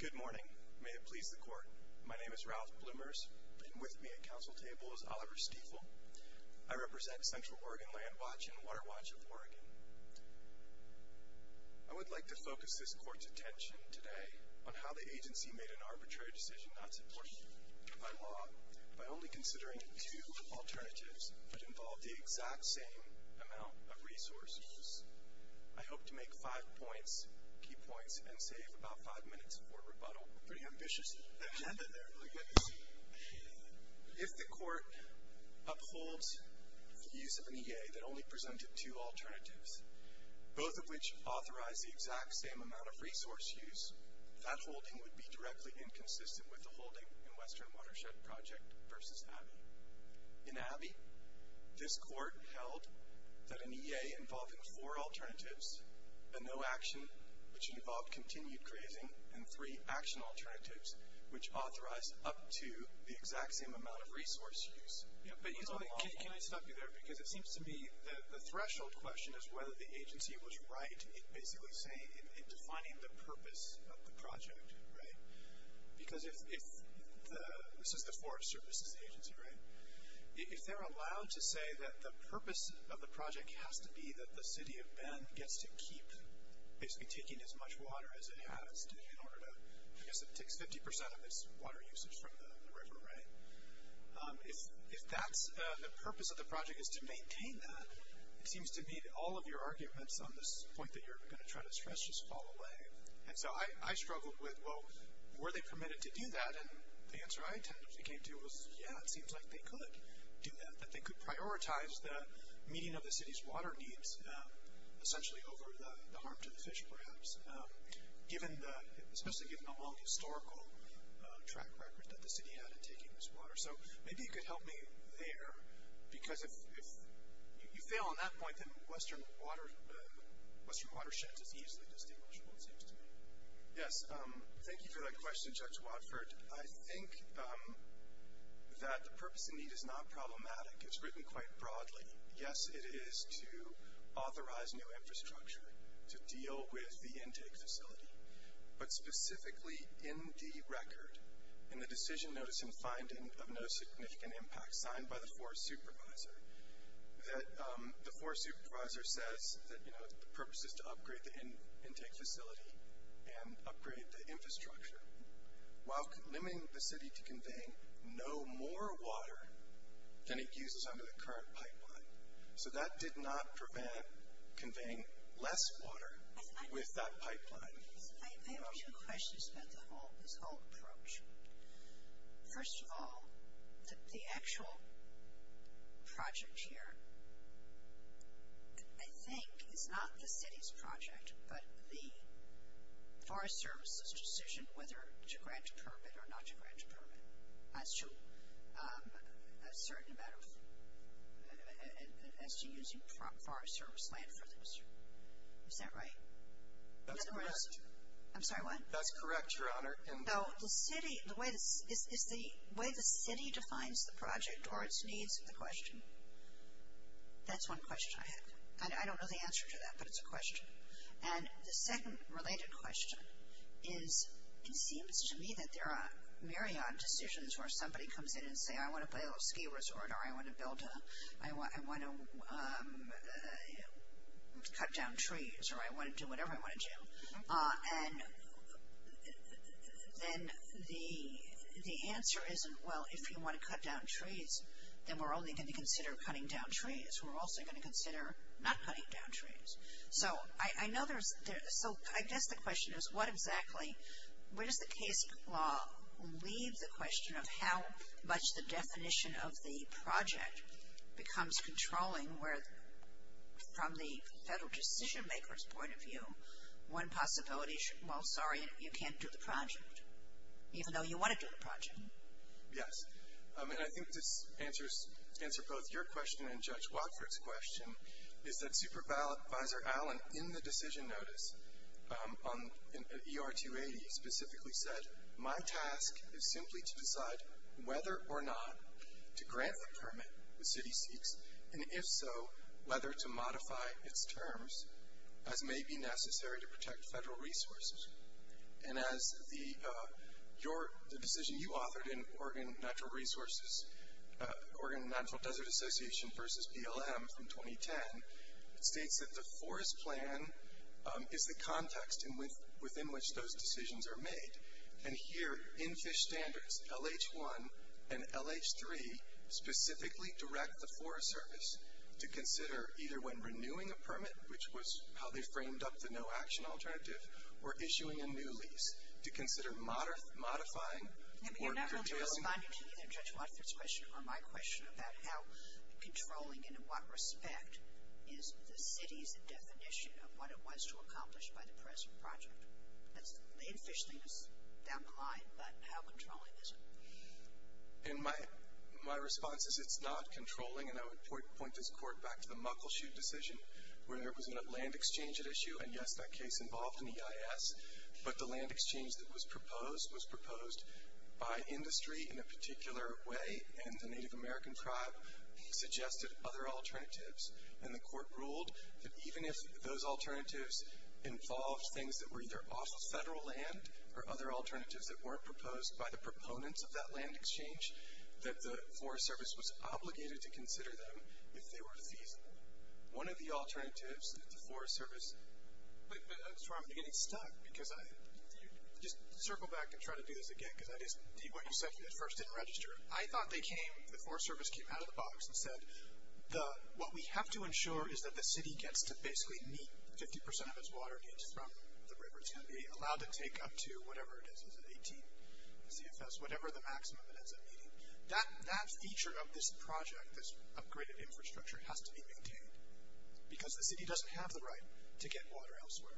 Good morning. May it please the court, my name is Ralph Blumers and with me at council table is Oliver Stiefel. I represent Central Oregon Landwatch and Waterwatch of Oregon. I would like to focus this court's attention today on how the agency made an arbitrary decision not supported by law by only considering two alternatives that involved the exact same amount of key points and save about five minutes for rebuttal. Pretty ambitious. If the court upholds the use of an EA that only presented two alternatives, both of which authorized the exact same amount of resource use, that holding would be directly inconsistent with the holding in Western Watershed Project v. Abbey. In Abbey, this court held that an EA involving four alternatives, a no action, which involved continued grazing, and three action alternatives, which authorized up to the exact same amount of resource use. But can I stop you there because it seems to me that the threshold question is whether the agency was right in basically saying, in defining the purpose of the project, right? Because if, this is the Forest Service's agency, right? If they're allowed to say that the purpose of the project has to be that the City of Bend gets to keep basically taking as much water as it has in order to, I guess it takes 50% of its water usage from the river, right? If that's the purpose of the project is to maintain that, it seems to me that all of your arguments on this point that you're going to try to stress just fall away. And so I struggled with, well, were they permitted to do that? And the answer I tentatively came to was, yeah, it seems like they could do that, that they could prioritize the meeting of the city's water needs, essentially over the harm to the fish, perhaps, given the, especially given the long historical track record that the city had in taking this water. So maybe you could help me there, because if you fail on that point, then Western water, Western watersheds is easily distinguishable, it seems to me. Yes, thank you for that question, Judge Watford. I think that the purpose of need is not problematic. It's written quite broadly. Yes, it is to authorize new infrastructure to deal with the intake facility, but specifically in the record, in the decision notice and finding of no significant impact, signed by the forest supervisor, that the forest supervisor says that, you know, the purpose is to and upgrade the infrastructure, while limiting the city to conveying no more water than it uses under the current pipeline. So that did not prevent conveying less water with that pipeline. I have two questions about the whole, this whole approach. First of all, the Forest Service's decision whether to grant permit or not to grant a permit, as to a certain amount of, as to using forest service land for this. Is that right? That's correct. I'm sorry, what? That's correct, Your Honor. And though the city, the way this is the way the city defines the project or its needs, the question. That's one question I had. I don't know the answer to that, but it's a question. And the second related question is, it seems to me that there are myriad decisions where somebody comes in and say, I want to build a ski resort or I want to build a, I want, I want to cut down trees or I want to do whatever I want to do. And then the, the answer isn't, well, if you want to cut down trees, then we're only going to consider cutting down trees. We're also going to consider not cutting down trees. So I know there's, so I guess the question is, what exactly, where does the case law leave the question of how much the definition of the project becomes controlling where, from the federal decision maker's point of view, one possibility should, well, sorry, you can't do the project, even though you want to do the project. Yes. I mean, I think this answers, answer both your question and Judge 's question, is that Supervisor Allen, in the decision notice on ER 280, specifically said, my task is simply to decide whether or not to grant the permit the city seeks, and if so, whether to modify its terms as may be necessary to protect federal resources. And as the, your, the decision you authored in Oregon Natural Resources, Oregon Natural Desert Association versus BLM from 2010, it states that the forest plan is the context in which, within which those decisions are made. And here, in Fish Standards, LH1 and LH3 specifically direct the Forest Service to consider either when renewing a permit, which was how they framed up the no action alternative, or issuing a new lease, to continue Judge Watford's question, or my question, about how controlling, and in what respect, is the city's definition of what it was to accomplish by the present project? That's, in Fish Standards, down the line, but how controlling is it? In my, my response is it's not controlling, and I would point this court back to the Muckleshoot decision, where there was a land exchange at issue, and yes, that case involved in the EIS, but the land exchange that was proposed, was proposed in a particular way, and the Native American tribe suggested other alternatives. And the court ruled that even if those alternatives involved things that were either off the federal land, or other alternatives that weren't proposed by the proponents of that land exchange, that the Forest Service was obligated to consider them if they were feasible. One of the alternatives that the Forest Service, but, but, I'm getting stuck, because I, just circle back and try to do this again, because I just, what you said at first didn't register. I thought they came, the Forest Service came out of the box, and said, the, what we have to ensure is that the city gets to basically meet 50% of its water needs from the river. It's going to be allowed to take up to, whatever it is, is it 18 CFS, whatever the maximum it ends up meeting. That, that feature of this project, this upgraded infrastructure, has to be maintained, because the city doesn't have the right to get water elsewhere.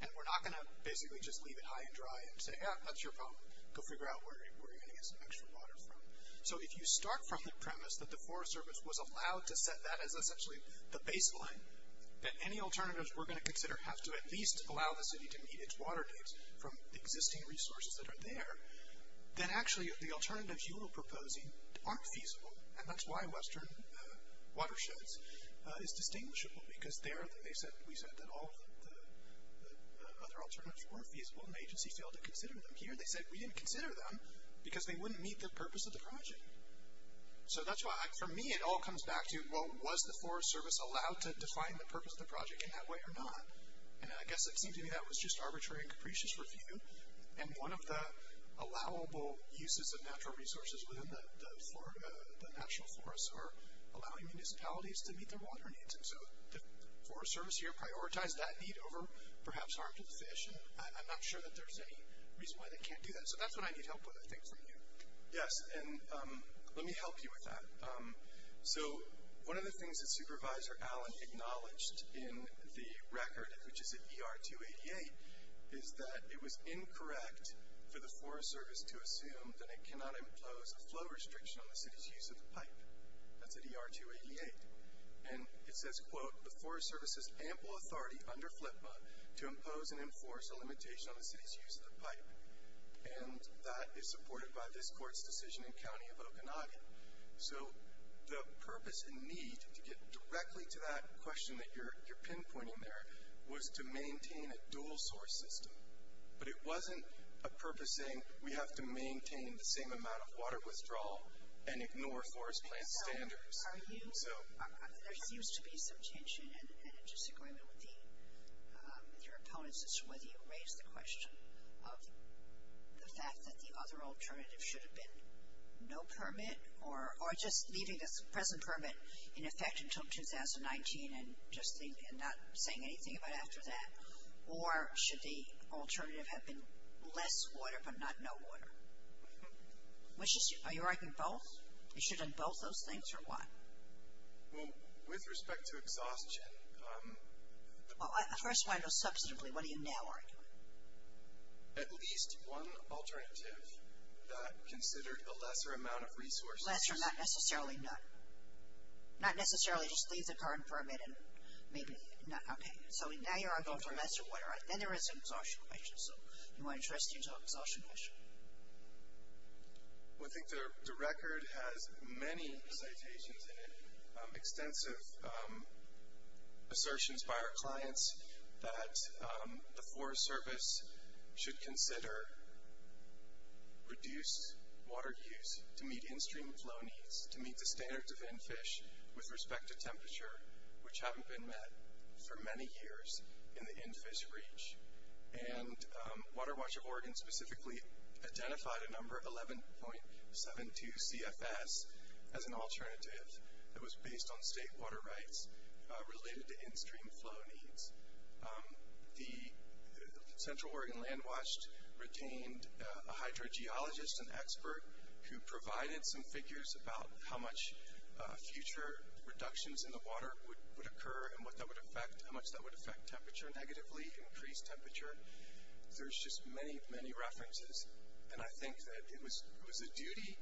And we're not going to basically just leave it high and dry and say, yeah, that's your problem. Go figure out where, where you're going to get some extra water from. So if you start from the premise that the Forest Service was allowed to set that as essentially the baseline, that any alternatives we're going to consider have to at least allow the city to meet its water needs from the existing resources that are there, then actually the alternatives you are proposing aren't feasible. And that's why Western Watersheds is distinguishable, because they're, they said, we said that all the other alternatives weren't feasible, and the agency failed to consider them here. They said, we didn't consider them, because they wouldn't meet the purpose of the project. So that's why, for me, it all comes back to, well, was the Forest Service allowed to define the purpose of the project in that way or not? And I guess it seemed to me that was just arbitrary and capricious review. And one of the allowable uses of natural resources within the, the, the natural forests are allowing municipalities to meet their water needs. And so the Forest Service here prioritized that need over perhaps harming the fish, and I'm not sure that there's any reason why they can't do that. So that's what I need help with, I think, from you. Yes, and let me help you with that. So one of the things that Supervisor Allen acknowledged in the record, which is at ER 288, is that it was incorrect for the Forest Service to assume that it cannot impose a flow restriction on the city's use of the pipe. That's at ER 288. And it says, quote, the Forest Service's ample authority under FLPA to impose and enforce a limitation on the city's use of the pipe. And that is supported by this court's decision in County of Okanagan. So the purpose and need, to get directly to that question that you're, you're pinpointing there, was to maintain a dual source system. But it wasn't a purpose saying we have to maintain the same amount of water withdrawal and ignore forest plant standards. So, there seems to be some tension and disagreement with the, with your opponents as to whether you raise the question of the fact that the other alternative should have been no permit or, or just leaving this present permit in effect until 2019 and just, and not saying anything about after that. Or should the alternative have been less water, but not no water? Which is, are you arguing both? You should have done both those things, or what? Well, with respect to exhaustion, um... Well, I first want to know, substantively, what are you now arguing? At least one alternative that considered a lesser amount of resources. Lesser, not necessarily none. Not necessarily just leave the current permit and maybe, not, okay. So now you're arguing for lesser water. Then there is an exhaustion issue. Well, I think the record has many citations in it. Extensive assertions by our clients that the Forest Service should consider reduced water use to meet in-stream flow needs. To meet the standards of NFISH with respect to temperature, which haven't been met for many years in the NFISH reach. And Water Watch of Oregon specifically identified a number, 11.72 CFS, as an alternative that was based on state water rights related to in-stream flow needs. The Central Oregon Land Watch retained a hydrogeologist, an expert, who provided some figures about how much future reductions in the water would occur and what that would affect, how much that would affect temperature negatively, increased temperature. There's just many, many references. And I think that it was the duty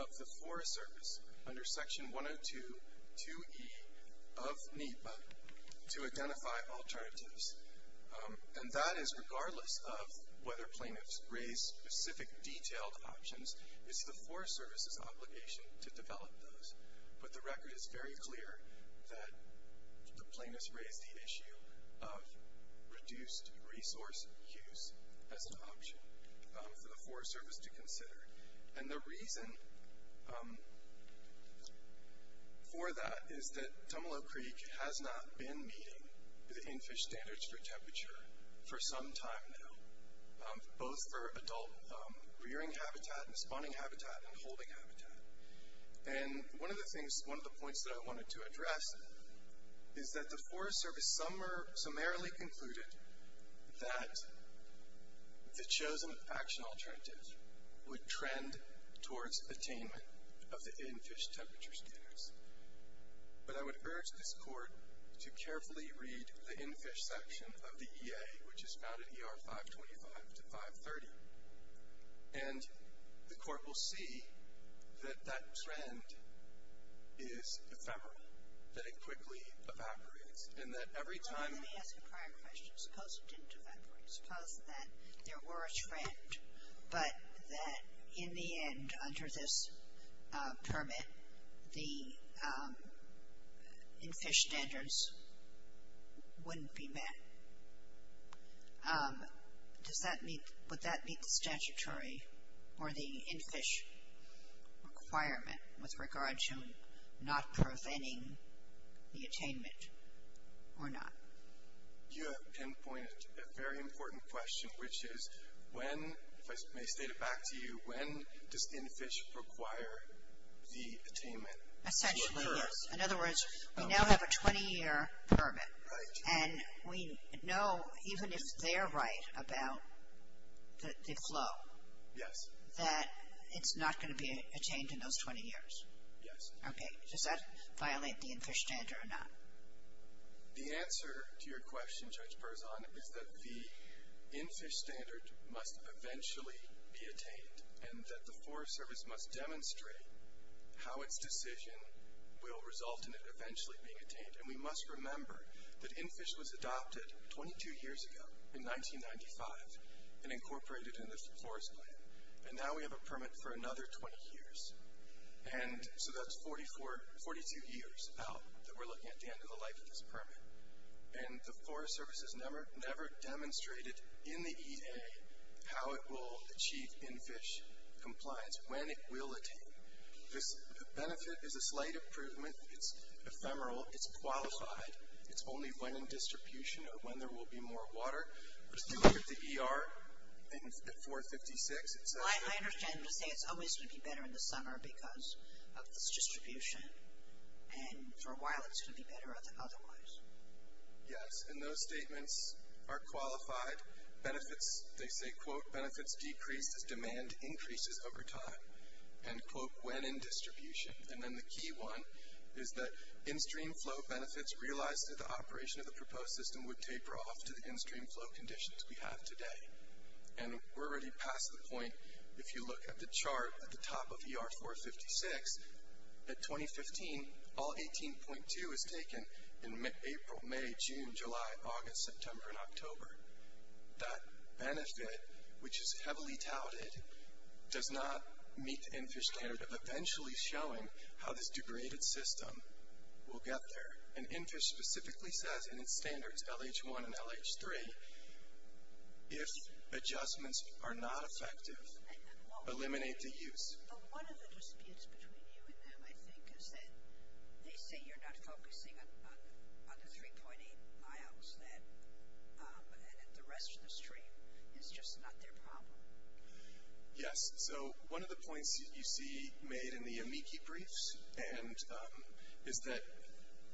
of the Forest Service under Section 102.2e of NEPA to identify alternatives. And that is regardless of whether plaintiffs raise specific detailed options, it's the Forest Service's obligation to develop those. But the record is very clear that the plaintiffs raised the issue of reduced resource use as an option for the Forest Service to consider. And the reason for that is that Tumalo Creek has not been meeting the NFISH standards for temperature for some time now, both for adult rearing habitat and spawning habitat and holding habitat. And one of the things, one of the points that I wanted to address is that the Forest Service summarily concluded that the chosen action alternative would trend towards attainment of the NFISH temperature standards. But I would urge this Court to carefully read the NFISH section of the EA, which is found in ER 525 to 530, and the that it quickly evaporates. And that every time Well, let me ask a prior question. Suppose it didn't evaporate. Suppose that there were a trend, but that in the end, under this permit, the NFISH standards wouldn't be met. Does that meet, would that meet the statutory or the NFISH requirement with regards to not preventing the attainment or not? You have pinpointed a very important question, which is, when, if I may state it back to you, when does NFISH require the attainment? Essentially, yes. In other words, we now have a 20-year permit. Right. And we know, even if they're right about the flow. Yes. That it's not going to be attained in those 20 years. Yes. Okay. Does that violate the NFISH standard or not? The answer to your question, Judge Parzon, is that the NFISH standard must eventually be attained and that the Forest Service must demonstrate how its decision will result in it eventually being attained. And we must remember that NFISH was adopted 22 years ago, in 1995, and incorporated in the Forest Plan. And now we have a permit for another 20 years. And so that's 42 years out that we're looking at the end of the life of this permit. And the Forest Service has never demonstrated in the EA how it will achieve NFISH compliance, when it will attain. This benefit is a slight improvement. It's ephemeral. It's qualified. It's only when in distribution or when there will be more water. We're still looking at the ER at 456. Well, I understand. You're saying it's always going to be better in the summer because of this distribution. And for a while it's going to be better otherwise. Yes. And those statements are qualified. Benefits, they say, quote, benefits decreased as demand increases over time. And, quote, when in distribution. And then the key one is that in-stream flow benefits realized through the operation of the proposed system would taper off to the in- stream flow conditions we have today. And we're already past the point. If you look at the chart at the top of ER 456, at 2015, all 18.2 is taken in April, May, June, July, August, September, and October. That benefit, which is heavily touted, does not meet the NFISH standard of eventually showing how this degraded system will get there. And NFISH specifically says in its standards, LH1 and LH3, if adjustments are not effective, eliminate the use. One of the disputes between you and them, I think, is that they say you're not focusing on the 3.8 miles and that the rest of the stream is just not their problem. Yes. So one of the points that you see made in the amici briefs is that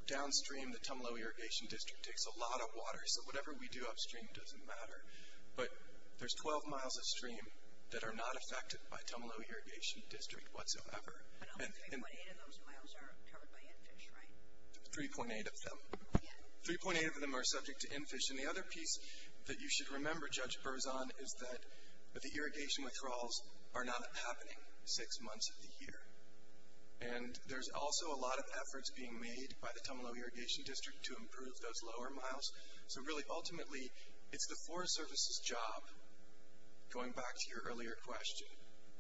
downstream the Tumalo Irrigation District takes a lot of water. So whatever we do upstream doesn't matter. But there's 12 miles of stream that are not affected by Tumalo Irrigation District whatsoever. And only 3.8 of those miles are covered by NFISH, right? 3.8 of them. 3.8 of them are subject to NFISH. And the other piece that you should remember, Judge Berzon, is that the irrigation withdrawals are not happening six months of the year. And there's also a lot of efforts being made by the Tumalo Irrigation District to improve those lower miles. So really, ultimately, it's the Forest Service's job, going back to your earlier question,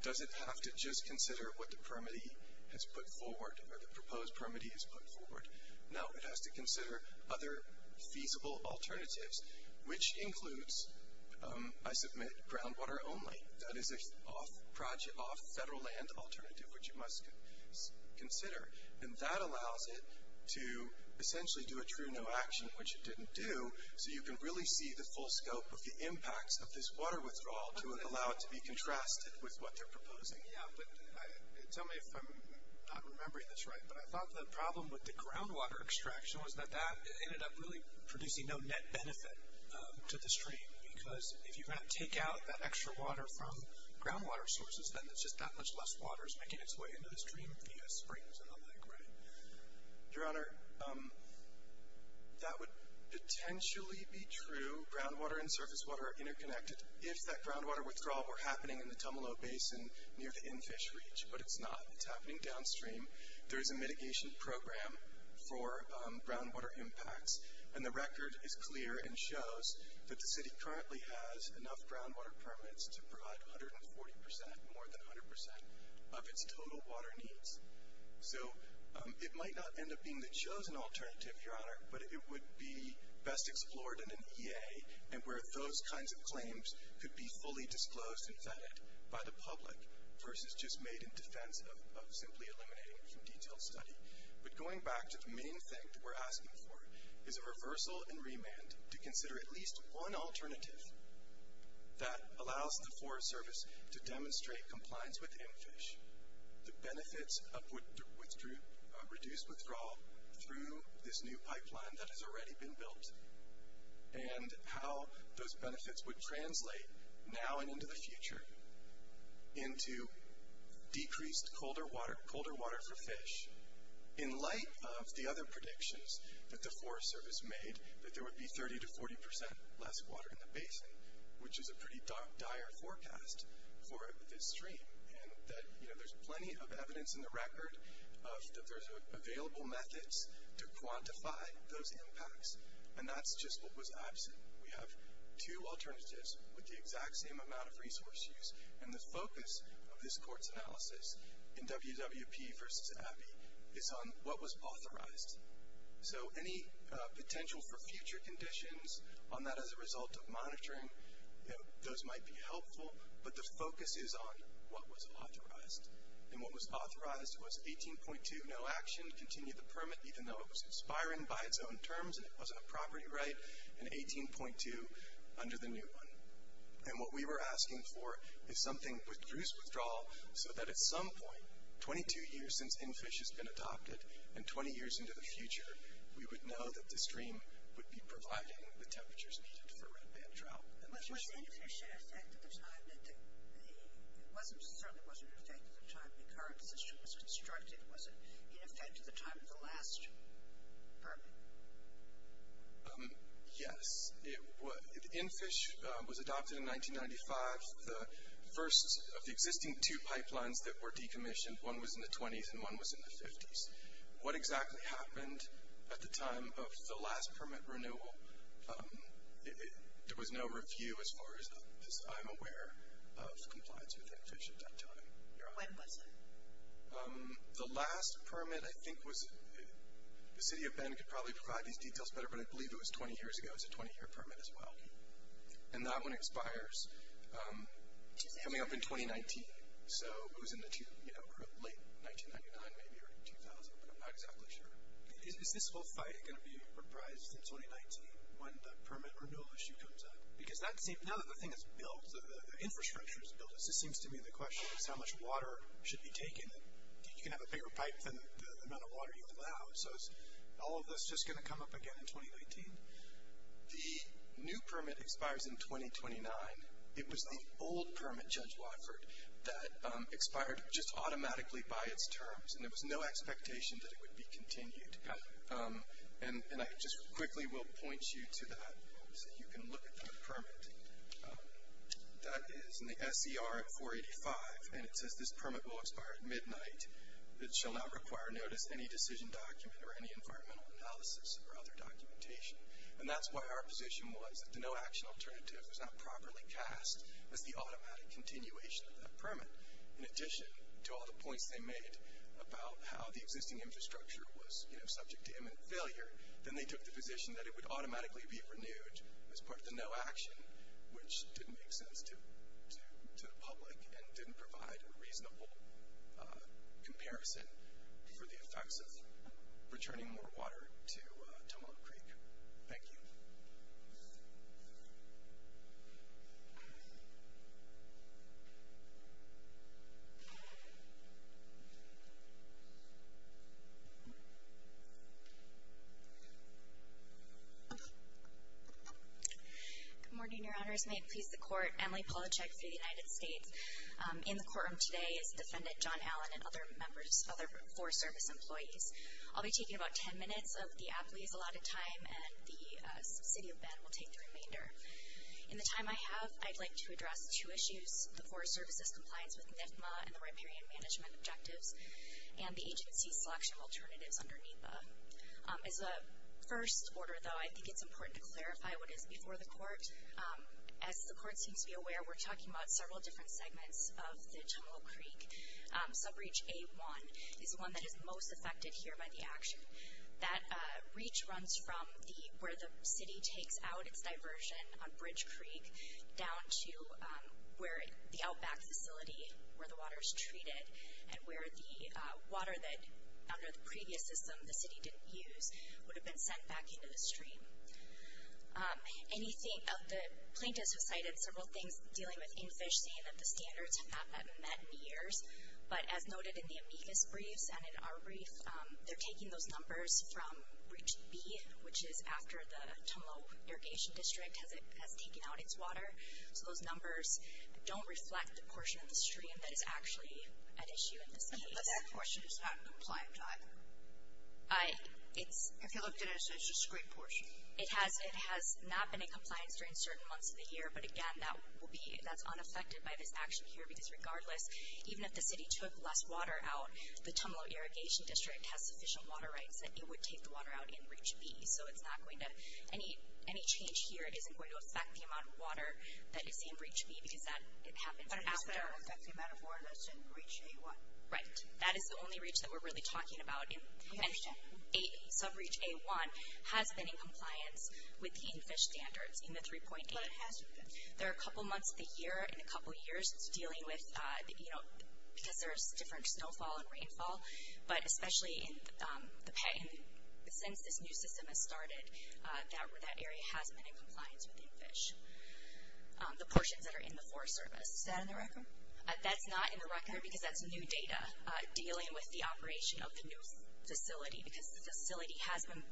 does it have to just consider what the permittee has put forward or the proposed permittee has put forward? No. It has to consider other feasible alternatives, which includes, I submit, groundwater only. That is a project off federal land alternative, which you must consider. And that allows it to essentially do a true no action, which it didn't do, so you can really see the full scope of the impacts of this water withdrawal to allow it to be contrasted with what they're proposing. Yeah, but tell me if I'm not remembering this right. But I thought the problem with the groundwater extraction was that that ended up really producing no net benefit to the stream. Because if you're going to take out that extra water from groundwater sources, then it's just that much less water is making its way into the stream via springs and the like, right? Your Honor, that would potentially be true. Groundwater and surface water are interconnected. If that groundwater withdrawal were happening in the Tumalo Basin near the in-fish reach, but it's not. It's happening downstream. There is a mitigation program for groundwater impacts, and the record is currently has enough groundwater permits to provide 140%, more than 100%, of its total water needs. So it might not end up being the chosen alternative, Your Honor, but it would be best explored in an EA and where those kinds of claims could be fully disclosed and vetted by the public versus just made in defense of simply eliminating it from detailed study. But going back to the main thing that we're asking for is a reversal and an alternative that allows the Forest Service to demonstrate compliance with in-fish, the benefits of reduced withdrawal through this new pipeline that has already been built, and how those benefits would translate now and into the future into decreased colder water for fish in light of the other water in the basin, which is a pretty dire forecast for this stream and that there's plenty of evidence in the record that there's available methods to quantify those impacts, and that's just what was absent. We have two alternatives with the exact same amount of resource use, and the focus of this Court's analysis in WWP versus Abbey is on what was authorized. So any potential for future conditions on that as a result of monitoring, those might be helpful, but the focus is on what was authorized. And what was authorized was 18.2, no action, continue the permit even though it was conspiring by its own terms and it wasn't a property right, and 18.2 under the new one. And what we were asking for is something with reduced withdrawal so that at some point, 22 years since NFISH has been adopted, and 20 years into the future, we would know that the stream would be providing the temperatures needed for red band trout. Was NFISH in effect at the time? It certainly wasn't in effect at the time the current system was constructed. Was it in effect at the time of the last permit? Yes. NFISH was adopted in 1995. The first of the existing two pipelines that were decommissioned, one was in the 20s and one was in the 50s. What exactly happened at the time of the last permit renewal? There was no review as far as I'm aware of compliance with NFISH at that time. When was it? The last permit I think was, the City of Bend could probably provide these under a permit as well. And that one expires coming up in 2019. So it was in the late 1999 maybe or 2000, but I'm not exactly sure. Is this whole fight going to be reprised in 2019 when the permit renewal issue comes up? Because that seems, now that the thing is built, the infrastructure is built, this seems to me the question is how much water should be taken. You can have a bigger pipe than the amount of water you allow. So is all of this just going to come up again in 2019? The new permit expires in 2029. It was the old permit, Judge Watford, that expired just automatically by its terms, and there was no expectation that it would be continued. And I just quickly will point you to that so you can look at that permit. That is in the SCR at 485, and it says this permit will expire at midnight. It shall not require notice of any decision document or any environmental analysis or other documentation. And that's why our position was that the no action alternative was not properly cast as the automatic continuation of that permit. In addition to all the points they made about how the existing infrastructure was subject to imminent failure, then they took the position that it would automatically be renewed as part of the no action, which didn't make sense to the public and didn't provide a reasonable comparison for the effects of returning more water to Tomahawk Creek. Thank you. Good morning, Your Honors. May it please the Court. Emily Polachek for the United States. In the courtroom today is Defendant John Allen and other members, other Forest Service employees. I'll be taking about ten minutes of the appellee's allotted time, and the subsidiary will take the remainder. In the time I have, I'd like to address two issues, the Forest Service's compliance with NIFMA and the riparian management objectives, and the agency's selection of alternatives under NIFA. As a first order, though, I think it's important to clarify what is before the Court. As the Court seems to be aware, we're talking about several different segments of the Tomahawk Creek. Subreach A1 is the one that is most affected here by the action. That reach runs from where the city takes out its diversion on Bridge Creek down to where the outback facility, where the water is treated and where the water that under the previous system the city didn't use would have been sent back into the stream. The plaintiffs have cited several things dealing with in fish, saying that the standards have not been met in years. But as noted in the amicus briefs and in our brief, they're taking those numbers from Reach B, which is after the Tomahawk Irrigation District has taken out its water. So those numbers don't reflect the portion of the stream that is actually at issue in this case. But that portion is not in compliance either, if you looked at it as a discrete portion. It has not been in compliance during certain months of the year, but again, that's unaffected by this action here, because regardless, even if the city took less water out, the Tomahawk Irrigation District has sufficient water rights that it would take the water out in Reach B. So any change here isn't going to affect the amount of water that is in Reach B, because that happens after. But it's going to affect the amount of water that's in Reach A1. Right. That is the only reach that we're really talking about. And Subreach A1 has been in compliance with the in-fish standards in the 3.8. How long has it been? There are a couple months of the year and a couple years. It's dealing with, you know, because there's different snowfall and rainfall, but especially since this new system has started, that area has been in compliance with in-fish. The portions that are in the Forest Service. Is that in the record? That's not in the record, because that's new data dealing with the operation of the new facility, because the facility has been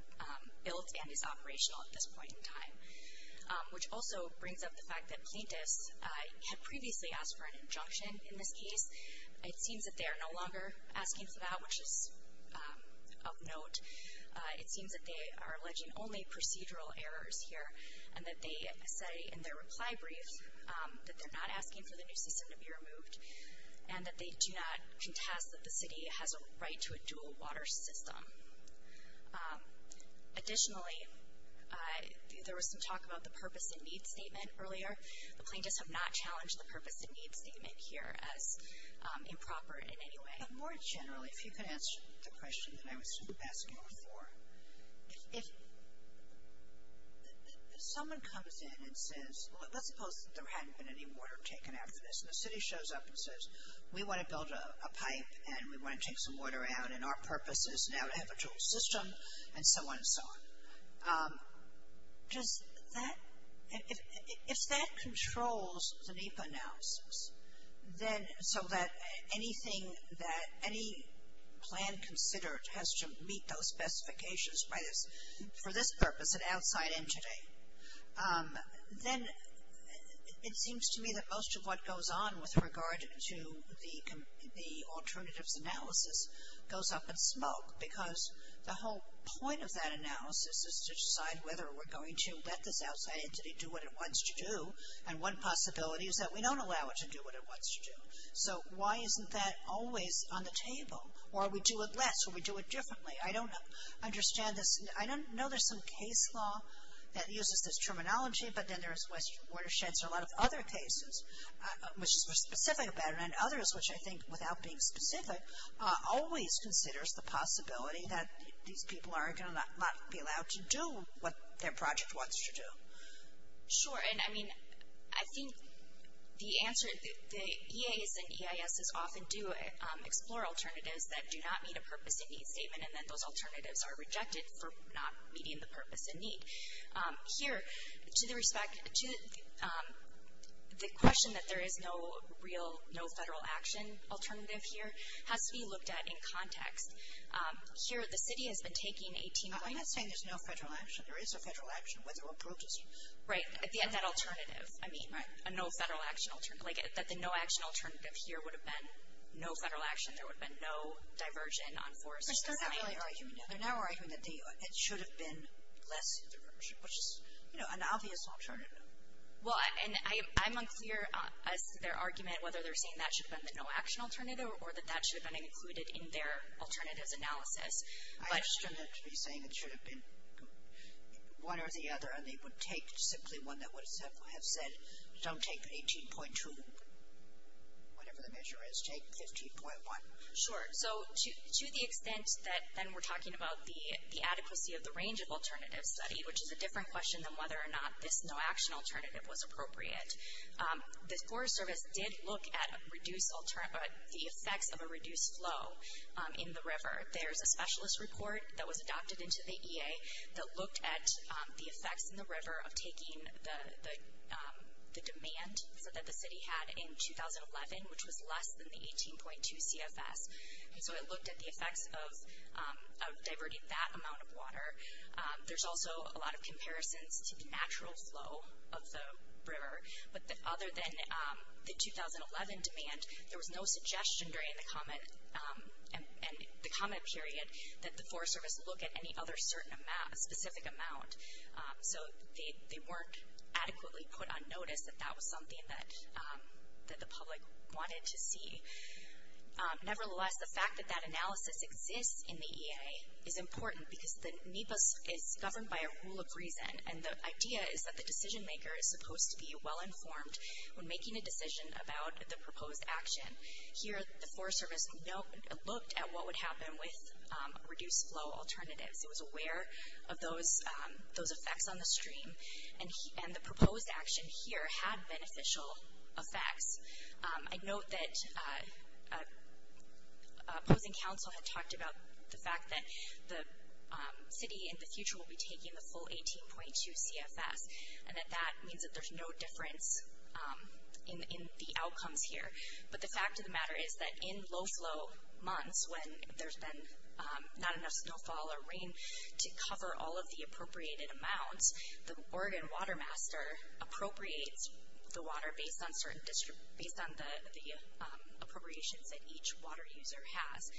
built and is operational at this point in time. Which also brings up the fact that plaintiffs had previously asked for an injunction in this case. It seems that they are no longer asking for that, which is of note. It seems that they are alleging only procedural errors here, and that they say in their reply brief that they're not asking for the new system to be removed, and that they do not contest that the city has a right to a dual water system. Additionally, there was some talk about the purpose and needs statement earlier. The plaintiffs have not challenged the purpose and needs statement here as improper in any way. But more generally, if you can answer the question that I was asking before. If someone comes in and says, let's suppose that there hadn't been any water taken after this, and the city shows up and says, we want to build a pipe and we want to take some water out, and our purpose is now to have a dual system, and so on and so on. If that controls the NEPA analysis, so that anything that any plan considered has to meet those specifications for this purpose, an outside entity, then it seems to me that most of what goes on with regard to the alternatives analysis goes up in smoke. Because the whole point of that analysis is to decide whether we're going to let this outside entity do what it wants to do. And one possibility is that we don't allow it to do what it wants to do. So why isn't that always on the table? Or we do it less, or we do it differently. I don't understand this. I know there's some case law that uses this terminology, but then there's western watersheds or a lot of other cases which are specific about it. And others, which I think without being specific, always considers the possibility that these people are going to not be allowed to do what their project wants to do. Sure. And I mean, I think the answer, the EAs and EISs often do explore alternatives that do not meet a purpose and need statement, and then those alternatives are rejected for not meeting the purpose and need. Here, to the respect, to the question that there is no real, no federal action alternative here has to be looked at in context. Here, the city has been taking a team. I'm not saying there's no federal action. There is a federal action, whether approved or not. Right. At the end, that alternative. I mean, a no federal action alternative. Like, that the no action alternative here would have been no federal action. There would have been no diversion on forest design. They're now arguing that it should have been less diversion, which is, you know, an obvious alternative. Well, and I'm unclear as to their argument whether they're saying that should have been the no action alternative or that that should have been included in their alternatives analysis. I understand that to be saying it should have been one or the other, and they would take simply one that would have said, don't take 18.2, whatever the measure is, take 15.1. Sure. So to the extent that then we're talking about the adequacy of the range of alternative study, which is a different question than whether or not this no action alternative was appropriate, the Forest Service did look at the effects of a reduced flow in the river. There's a specialist report that was adopted into the EA that looked at the effects in the river of taking the demand that the city had in 2011, which was less than the 18.2 CFS. And so it looked at the effects of diverting that amount of water. There's also a lot of comparisons to the natural flow of the river. But other than the 2011 demand, there was no suggestion during the comment period that the Forest Service look at any other specific amount. So they weren't adequately put on notice that that was something that the public wanted to see. Nevertheless, the fact that that analysis exists in the EA is important because the NEPA is governed by a rule of reason. And the idea is that the decision maker is supposed to be well informed when making a decision about the proposed action. Here the Forest Service looked at what would happen with reduced flow alternatives. It was aware of those effects on the stream, and the proposed action here had beneficial effects. I note that opposing counsel had talked about the fact that the city in the future will be taking the full 18.2 CFS, and that that means that there's no difference in the outcomes here. But the fact of the matter is that in low flow months when there's been not enough snowfall or rain to cover all of the appropriated amounts, the Oregon Water Master appropriates the water based on the appropriations that each water user has.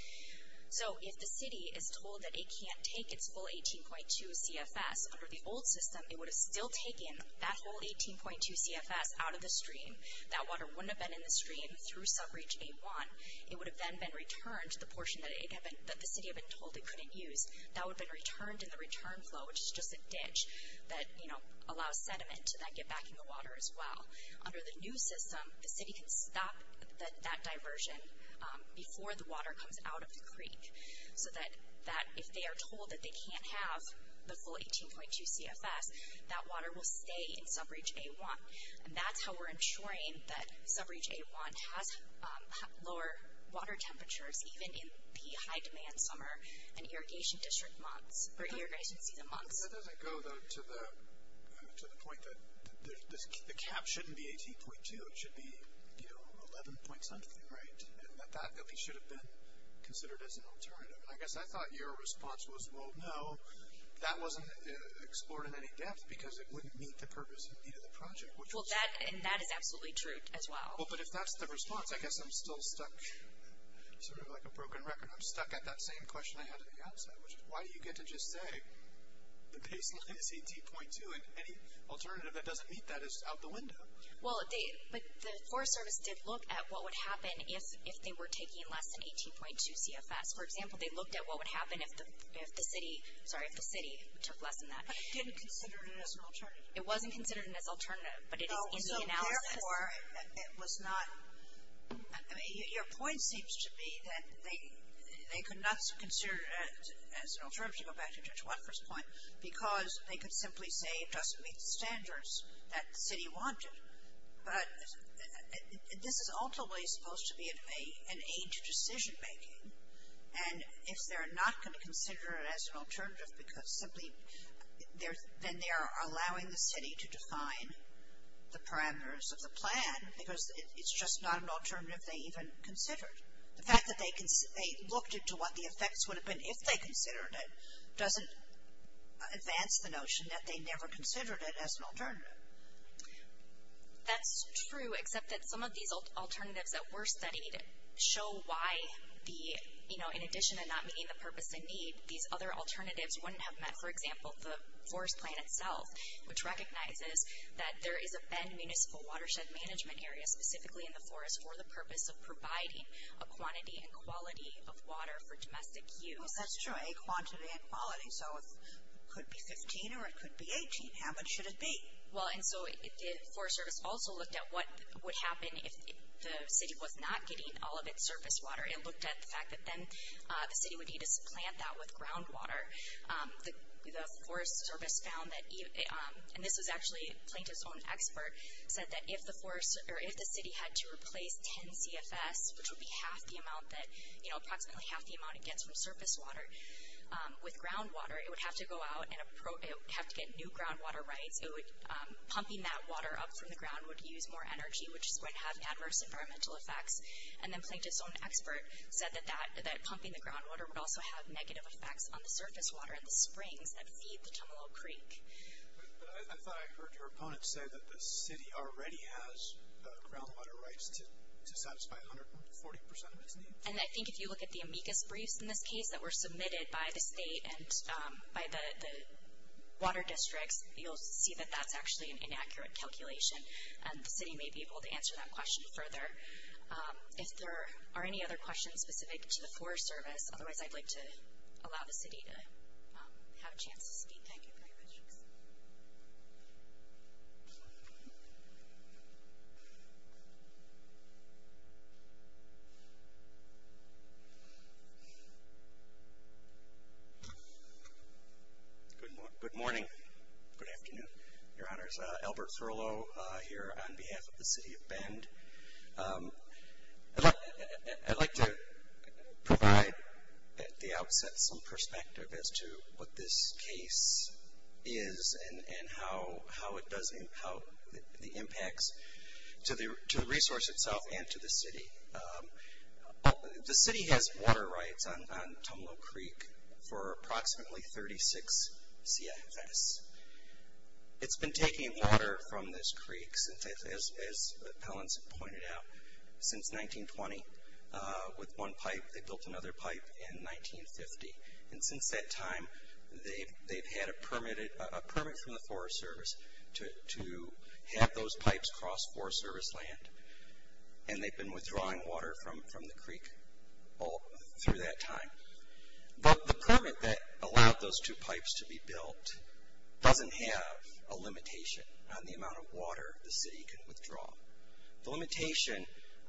So if the city is told that it can't take its full 18.2 CFS under the old system, it would have still taken that full 18.2 CFS out of the stream. That water wouldn't have been in the stream through sub-reach A1. It would have then been returned to the portion that the city had been told it couldn't use. That would have been returned in the return flow, which is just a ditch that, you know, allows sediment to then get back in the water as well. Under the new system, the city can stop that diversion before the water comes out of the creek, so that if they are told that they can't have the full 18.2 CFS, that water will stay in sub-reach A1. And that's how we're ensuring that sub-reach A1 has lower water temperatures, even in the high-demand summer and irrigation district months, or irrigation season months. That doesn't go, though, to the point that the cap shouldn't be 18.2. It should be, you know, 11-point-something, right? That at least should have been considered as an alternative. I guess I thought your response was, well, no, that wasn't explored in any depth because it wouldn't meet the purpose and need of the project. Well, and that is absolutely true as well. Well, but if that's the response, I guess I'm still stuck sort of like a broken record. I'm stuck at that same question I had on the outside, which is, why do you get to just say the baseline is 18.2 and any alternative that doesn't meet that is out the window? Well, but the Forest Service did look at what would happen if they were taking less than 18.2 CFS. For example, they looked at what would happen if the city took less than that. But it didn't consider it as an alternative. It wasn't considered as an alternative, but it is in the analysis. So, therefore, it was not, I mean, your point seems to be that they could not consider it as an alternative, to go back to Judge Watford's point, because they could simply say it doesn't meet the standards that the city wanted. But this is ultimately supposed to be an aid to decision-making. And if they're not going to consider it as an alternative because simply, then they are allowing the city to define the parameters of the plan because it's just not an alternative they even considered. The fact that they looked into what the effects would have been if they considered it, doesn't advance the notion that they never considered it as an alternative. That's true, except that some of these alternatives that were studied show why the, you know, in addition to not meeting the purpose and need, these other alternatives wouldn't have met. For example, the forest plan itself, which recognizes that there is a bend municipal watershed management area specifically in the forest for the purpose of providing a quantity and quality of water for domestic use. Well, that's true, a quantity and quality. So, it could be 15 or it could be 18. How much should it be? Well, and so the Forest Service also looked at what would happen if the city was not getting all of its surface water. It looked at the fact that then the city would need to supplant that with groundwater. The Forest Service found that, and this was actually Plaintiff's own expert, said that if the city had to replace 10 CFS, which would be half the amount that, you know, approximately half the amount it gets from surface water, with groundwater, it would have to go out and have to get new groundwater rights. So, pumping that water up from the ground would use more energy, which is going to have adverse environmental effects. And then Plaintiff's own expert said that pumping the groundwater would also have negative effects on the surface water in the springs that feed the Tumalo Creek. But I thought I heard your opponent say that the city already has groundwater rights to satisfy 140% of its needs. And I think if you look at the amicus briefs in this case that were submitted by the state and by the water districts, you'll see that that's actually an inaccurate calculation. And the city may be able to answer that question further. If there are any other questions specific to the Forest Service, otherwise I'd like to allow the city to have a chance to speak. Thank you very much. Good morning. Good afternoon, Your Honors. Albert Thurlow here on behalf of the city of Bend. I'd like to provide at the outset some perspective as to what this case is and how it impacts to the resource itself and to the city. The city has water rights on Tumalo Creek for approximately 36 CFS. It's been taking water from this creek, as Pellenson pointed out, since 1920 with one pipe. They built another pipe in 1950. And since that time, they've had a permit from the Forest Service to have those pipes cross Forest Service land. And they've been withdrawing water from the creek all through that time. But the permit that allowed those two pipes to be built doesn't have a limitation on the amount of water the city can withdraw. The limitation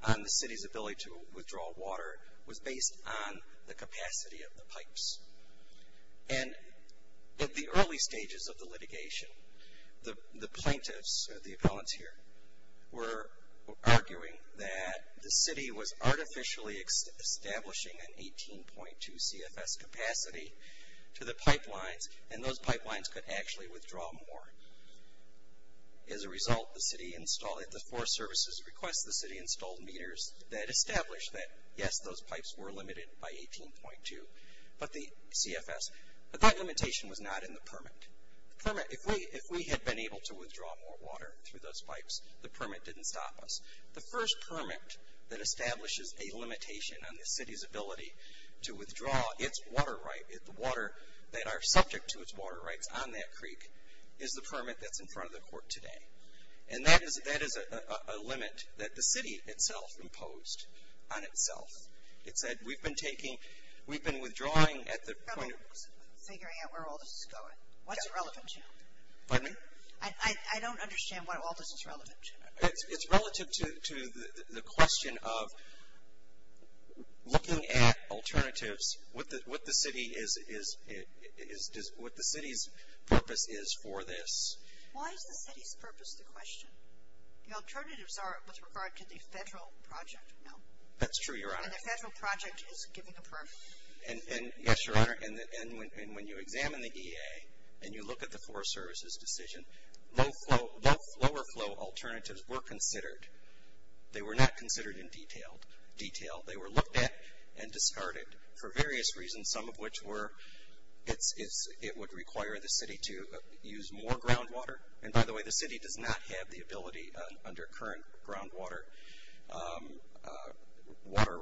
on the city's ability to withdraw water was based on the capacity of the pipes. And at the early stages of the litigation, the plaintiffs, the appellants here, were arguing that the city was artificially establishing an 18.2 CFS capacity to the pipelines, and those pipelines could actually withdraw more. As a result, the city installed, at the Forest Service's request, the city installed meters that established that, yes, those pipes were limited by 18.2, but the CFS. But that limitation was not in the permit. The permit, if we had been able to withdraw more water through those pipes, the permit didn't stop us. The first permit that establishes a limitation on the city's ability to withdraw its water right, the water that are subject to its water rights on that creek, is the permit that's in front of the court today. And that is a limit that the city itself imposed on itself. It said, we've been withdrawing at the point. I was figuring out where all this is going. What's it relevant to? Pardon me? I don't understand what all this is relevant to. It's relative to the question of looking at alternatives, what the city is, what the city's purpose is for this. Why is the city's purpose the question? The alternatives are with regard to the federal project, no? That's true, Your Honor. And the federal project is giving a permit. Yes, Your Honor. And when you examine the EA and you look at the Forest Service's decision, both lower flow alternatives were considered. They were not considered in detail. They were looked at and discarded for various reasons, some of which were it would require the city to use more groundwater. And, by the way, the city does not have the ability under current groundwater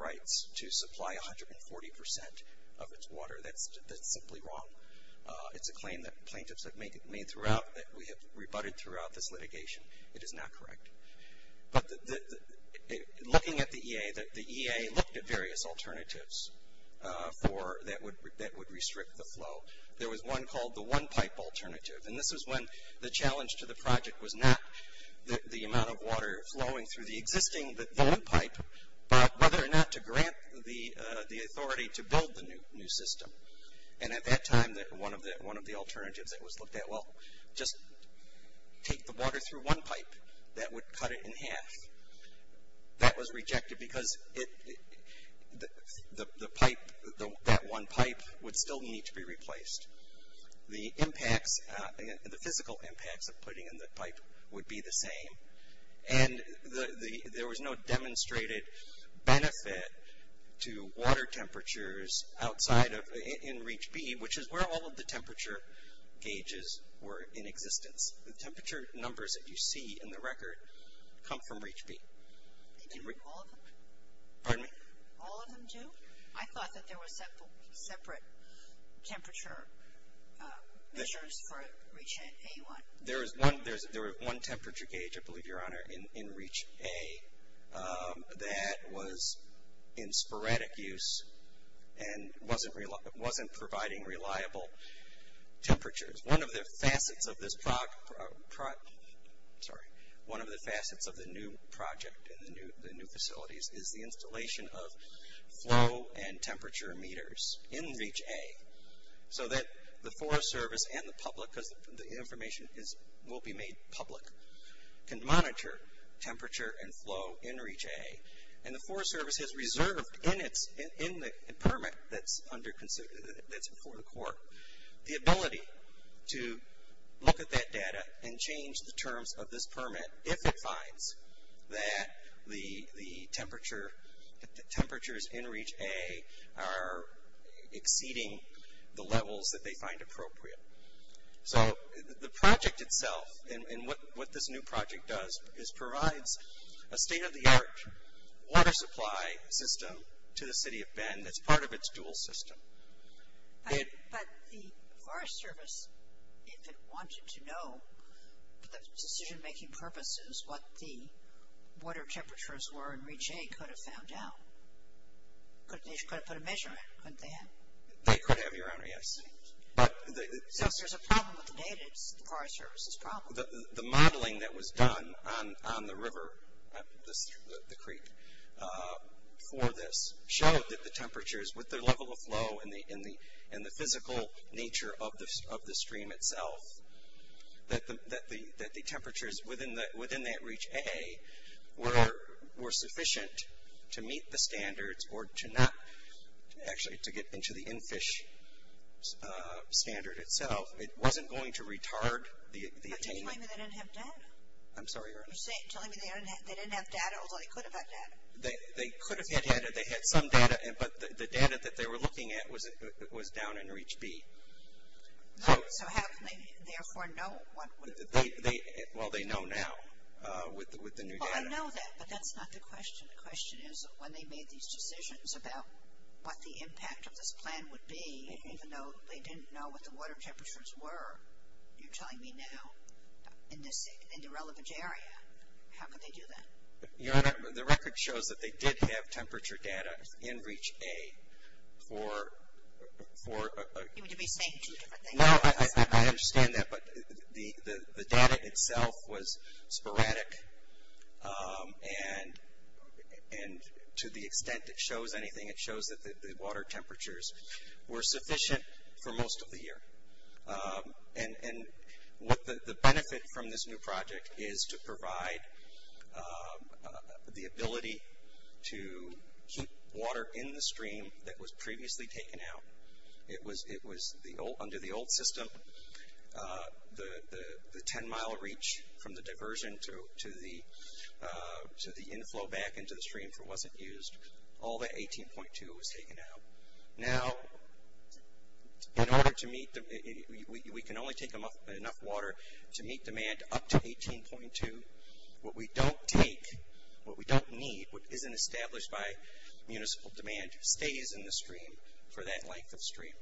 rights to supply 140% of its water. That's simply wrong. It's a claim that plaintiffs have made throughout that we have rebutted throughout this litigation. It is not correct. But looking at the EA, the EA looked at various alternatives that would restrict the flow. There was one called the one-pipe alternative. And this is when the challenge to the project was not the amount of water flowing through the existing balloon pipe, but whether or not to grant the authority to build the new system. And at that time, one of the alternatives that was looked at, well, just take the water through one pipe. That would cut it in half. That was rejected because the pipe, that one pipe, would still need to be replaced. The impacts, the physical impacts of putting in the pipe would be the same. And there was no demonstrated benefit to water temperatures outside of, in Reach B, which is where all of the temperature gauges were in existence. The temperature numbers that you see in the record come from Reach B. Pardon me? All of them do? I thought that there were separate temperature measures for Reach A1. There was one temperature gauge, I believe, Your Honor, in Reach A that was in sporadic use and wasn't providing reliable temperatures. One of the facets of this project, sorry, one of the facets of the new project and the new facilities is the installation of flow and temperature meters in Reach A so that the Forest Service and the public, because the information will be made public, can monitor temperature and flow in Reach A. And the Forest Service has reserved in the permit that's under, that's before the court, the ability to look at that data and change the terms of this permit if it finds that the temperatures in Reach A are exceeding the levels that they find appropriate. So the project itself and what this new project does is provides a state-of-the-art water supply system to the City of Bend that's part of its dual system. But the Forest Service, if it wanted to know, for decision-making purposes, what the water temperatures were in Reach A could have found out. They could have put a measure in, couldn't they have? They could have, Your Honor, yes. So if there's a problem with the data, it's the Forest Service's problem. The modeling that was done on the river, the creek for this, showed that the temperatures with their level of flow and the physical nature of the stream itself, that the temperatures within that Reach A were sufficient to meet the standards or to not actually to get into the in-fish standard itself. It wasn't going to retard the attainment. You're telling me they didn't have data? I'm sorry, Your Honor. You're telling me they didn't have data, although they could have had data? They could have had data. They had some data, but the data that they were looking at was down in Reach B. So how can they therefore know? Well, they know now with the new data. Well, I know that, but that's not the question. The question is when they made these decisions about what the impact of this plan would be, even though they didn't know what the water temperatures were, you're telling me now in the relevant area, how could they do that? Your Honor, the record shows that they did have temperature data in Reach A for... You would be saying two different things. No, I understand that, but the data itself was sporadic, and to the extent it shows anything, it shows that the water temperatures were sufficient for most of the year. And the benefit from this new project is to provide the ability to keep water in the stream that was previously taken out. It was under the old system. The ten-mile reach from the diversion to the inflow back into the stream wasn't used. All the 18.2 was taken out. Now, in order to meet the... we can only take enough water to meet demand up to 18.2. What we don't take, what we don't need, what isn't established by municipal demand, stays in the stream for that length of stream.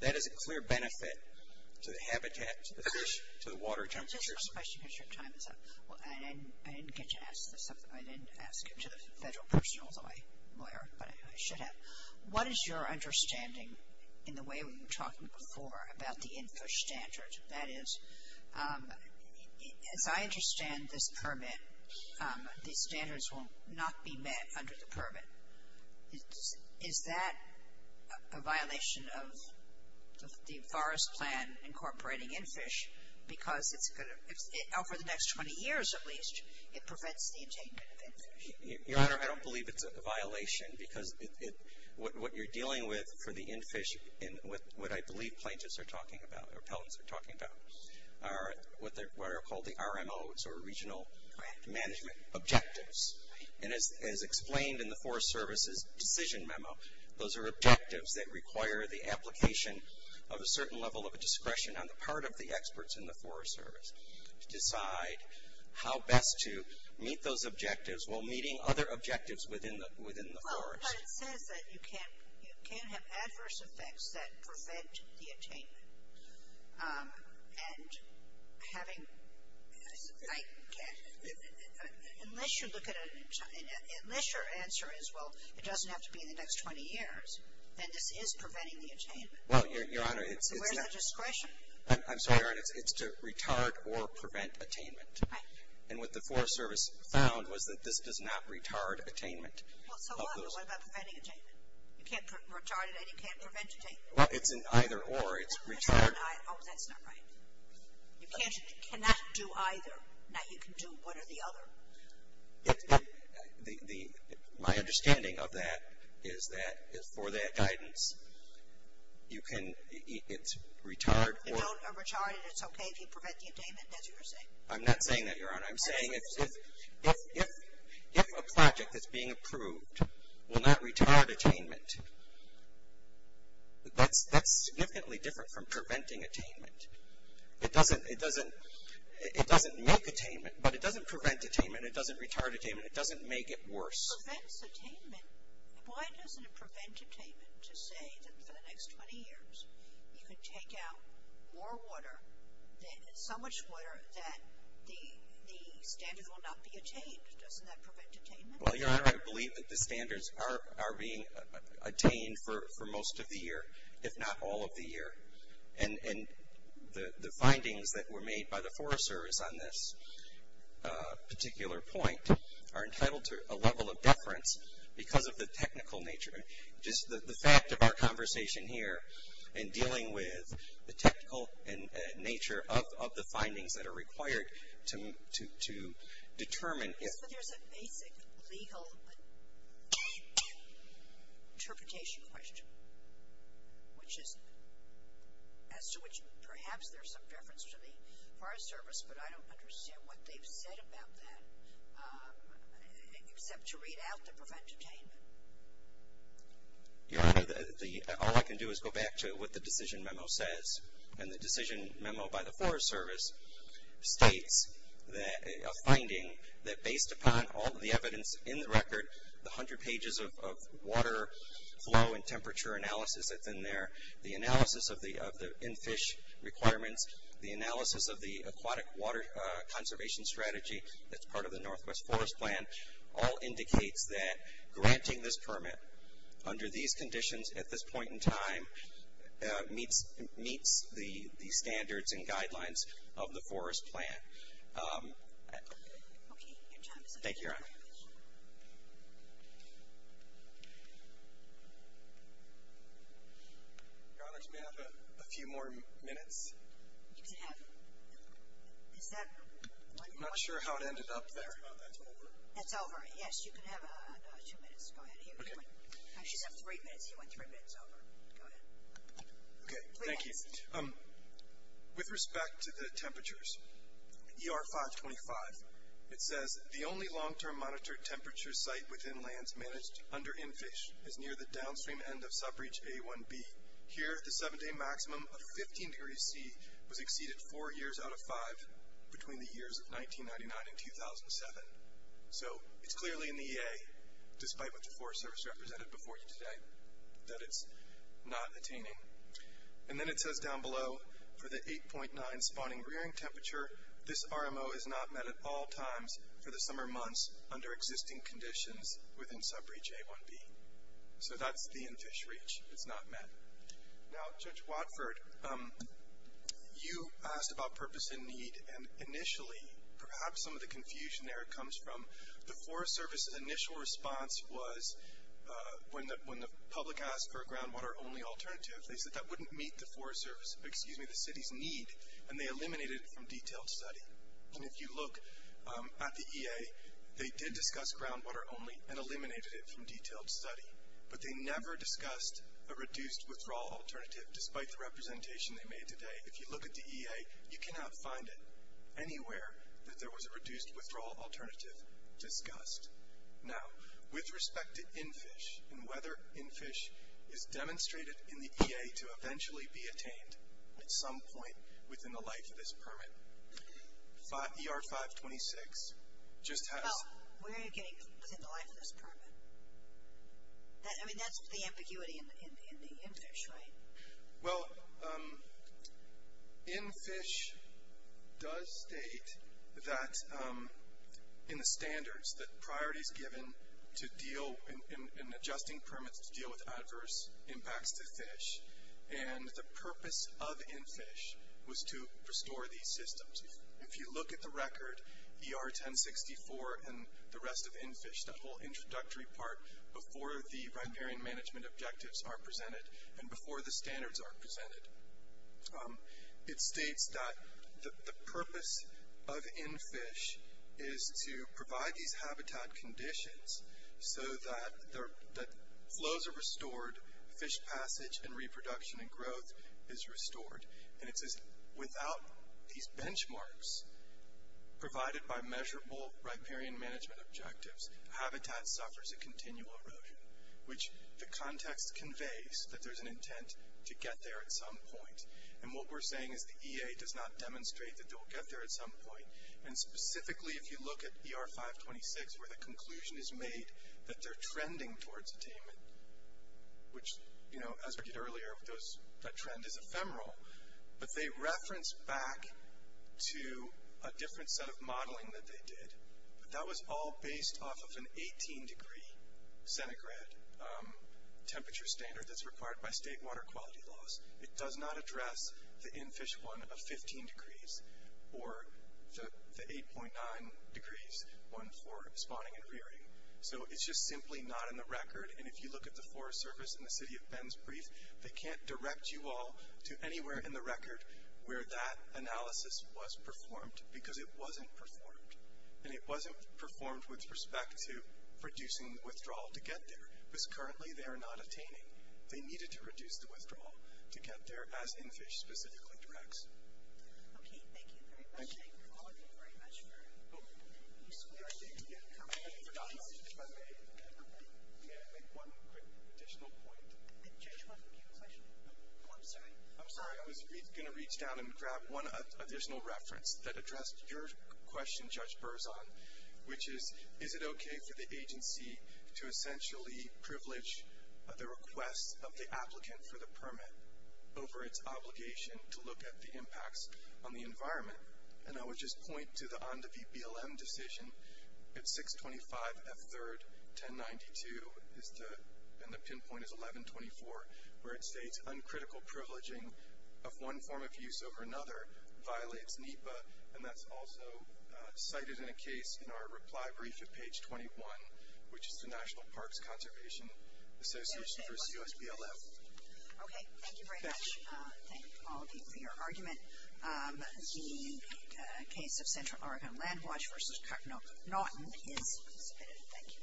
That is a clear benefit to the habitat, to the fish, to the water temperatures. Just one question because your time is up. I didn't get to ask this stuff. I didn't ask it to the federal person, although I should have. What is your understanding, in the way we were talking before, about the infish standard? That is, as I understand this permit, the standards will not be met under the permit. Is that a violation of the forest plan incorporating infish because it's going to, over the next 20 years at least, it prevents the attainment of infish? Your Honor, I don't believe it's a violation because what you're dealing with for the infish, what I believe plaintiffs are talking about, or appellants are talking about, are what are called the RMOs, or regional management objectives. And as explained in the Forest Service's decision memo, those are objectives that require the application of a certain level of discretion on the part of the experts in the Forest Service to decide how best to meet those objectives while meeting other objectives within the forest. Well, but it says that you can't have adverse effects that prevent the attainment. And having, I can't, unless you look at it, unless your answer is, well, it doesn't have to be in the next 20 years, then this is preventing the attainment. Well, Your Honor, it's not. So where's that discretion? I'm sorry, Your Honor, it's to retard or prevent attainment. Right. And what the Forest Service found was that this does not retard attainment. Well, so what? What about preventing attainment? You can't retard it and you can't prevent attainment. Well, it's an either or, it's retard. Oh, that's not right. You cannot do either. Now you can do one or the other. My understanding of that is that for that guidance, you can, it's retard or. You don't retard it, it's okay if you prevent the attainment, as you were saying. I'm not saying that, Your Honor. I'm saying if a project that's being approved will not retard attainment, that's significantly different from preventing attainment. It doesn't make attainment, but it doesn't prevent attainment. It doesn't retard attainment. It doesn't make it worse. Prevents attainment? Why doesn't it prevent attainment to say that for the next 20 years, you can take out more water, so much water, that the standards will not be attained? Doesn't that prevent attainment? Well, Your Honor, I believe that the standards are being attained for most of the year, if not all of the year. And the findings that were made by the Forest Service on this particular point are entitled to a level of deference because of the technical nature. Just the fact of our conversation here in dealing with the technical nature of the findings that are required to determine. Yes, but there's a basic legal interpretation question, which is as to which perhaps there's some deference to the Forest Service, but I don't understand what they've said about that, except to read out to prevent attainment. Your Honor, all I can do is go back to what the decision memo says. And the decision memo by the Forest Service states a finding that based upon all the evidence in the record, the 100 pages of water flow and temperature analysis that's in there, the analysis of the in-fish requirements, the analysis of the aquatic water conservation strategy that's part of the Northwest Forest Plan, all indicates that granting this permit under these conditions at this point in time meets the standards and guidelines of the Forest Plan. Thank you, Your Honor. Your Honor, can we have a few more minutes? I'm not sure how it ended up there. That's over. That's over. Yes, you can have two minutes. Go ahead. She said three minutes. You went three minutes over. Go ahead. Okay, thank you. With respect to the temperatures, ER 525, it says the only long-term monitored temperature site within lands managed under in-fish is near the downstream end of sub-reach A1B. Here, the seven-day maximum of 15 degrees C was exceeded four years out of five between the years of 1999 and 2007. So it's clearly in the EA, despite what the Forest Service represented before you today, that it's not attaining. And then it says down below, for the 8.9 spawning rearing temperature, this RMO is not met at all times for the summer months under existing conditions within sub-reach A1B. So that's the in-fish reach. It's not met. Now, Judge Watford, you asked about purpose and need, and initially perhaps some of the confusion there comes from the Forest Service's initial response was when the public asked for a groundwater-only alternative, they said that wouldn't meet the city's need, and they eliminated it from detailed study. And if you look at the EA, they did discuss groundwater only and eliminated it from detailed study, but they never discussed a reduced-withdrawal alternative, despite the representation they made today. If you look at the EA, you cannot find it anywhere that there was a reduced-withdrawal alternative discussed. Now, with respect to in-fish and whether in-fish is demonstrated in the EA to eventually be attained at some point within the life of this permit, ER-526 just has... Well, where are you getting within the life of this permit? I mean, that's the ambiguity in the in-fish, right? Well, in-fish does state that in the standards that priority is given to deal in adjusting permits to deal with adverse impacts to fish, and the purpose of in-fish was to restore these systems. If you look at the record, ER-1064 and the rest of in-fish, that whole introductory part before the riparian management objectives are presented and before the standards are presented, it states that the purpose of in-fish is to provide these habitat conditions so that flows are restored, fish passage and reproduction and growth is restored, and it says without these benchmarks provided by measurable riparian management objectives, habitat suffers a continual erosion, which the context conveys that there's an intent to get there at some point, and what we're saying is the EA does not demonstrate that they'll get there at some point, and specifically if you look at ER-526 where the conclusion is made that they're trending towards attainment, which, you know, as we did earlier, that trend is ephemeral, but they reference back to a different set of modeling that they did, but that was all based off of an 18-degree centigrade temperature standard that's required by state water quality laws. It does not address the in-fish one of 15 degrees or the 8.9 degrees one for spawning and rearing, so it's just simply not in the record, and if you look at the forest service in the city of Bends brief, they can't direct you all to anywhere in the record where that analysis was performed because it wasn't performed, and it wasn't performed with respect to reducing the withdrawal to get there. It was currently they are not attaining. They needed to reduce the withdrawal to get there as in-fish specifically directs. Okay, thank you very much. Thank you all. Thank you very much for your questions. I think, again, I think we're done. I think we can make one quick additional point. Judge, do you have a question? Oh, I'm sorry. I'm sorry. I was going to reach down and grab one additional reference that addressed your question, Judge Berzon, over its obligation to look at the impacts on the environment, and I would just point to the ONDA v. BLM decision at 625 F3rd 1092, and the pinpoint is 1124, where it states uncritical privileging of one form of use over another violates NEPA, and that's also cited in a case in our reply brief at page 21, which is the National Parks Conservation Association v. USBLM. Okay, thank you very much. Thank all of you for your argument. The case of Central Oregon Land Watch v. Cardinal Naughton is submitted. Thank you.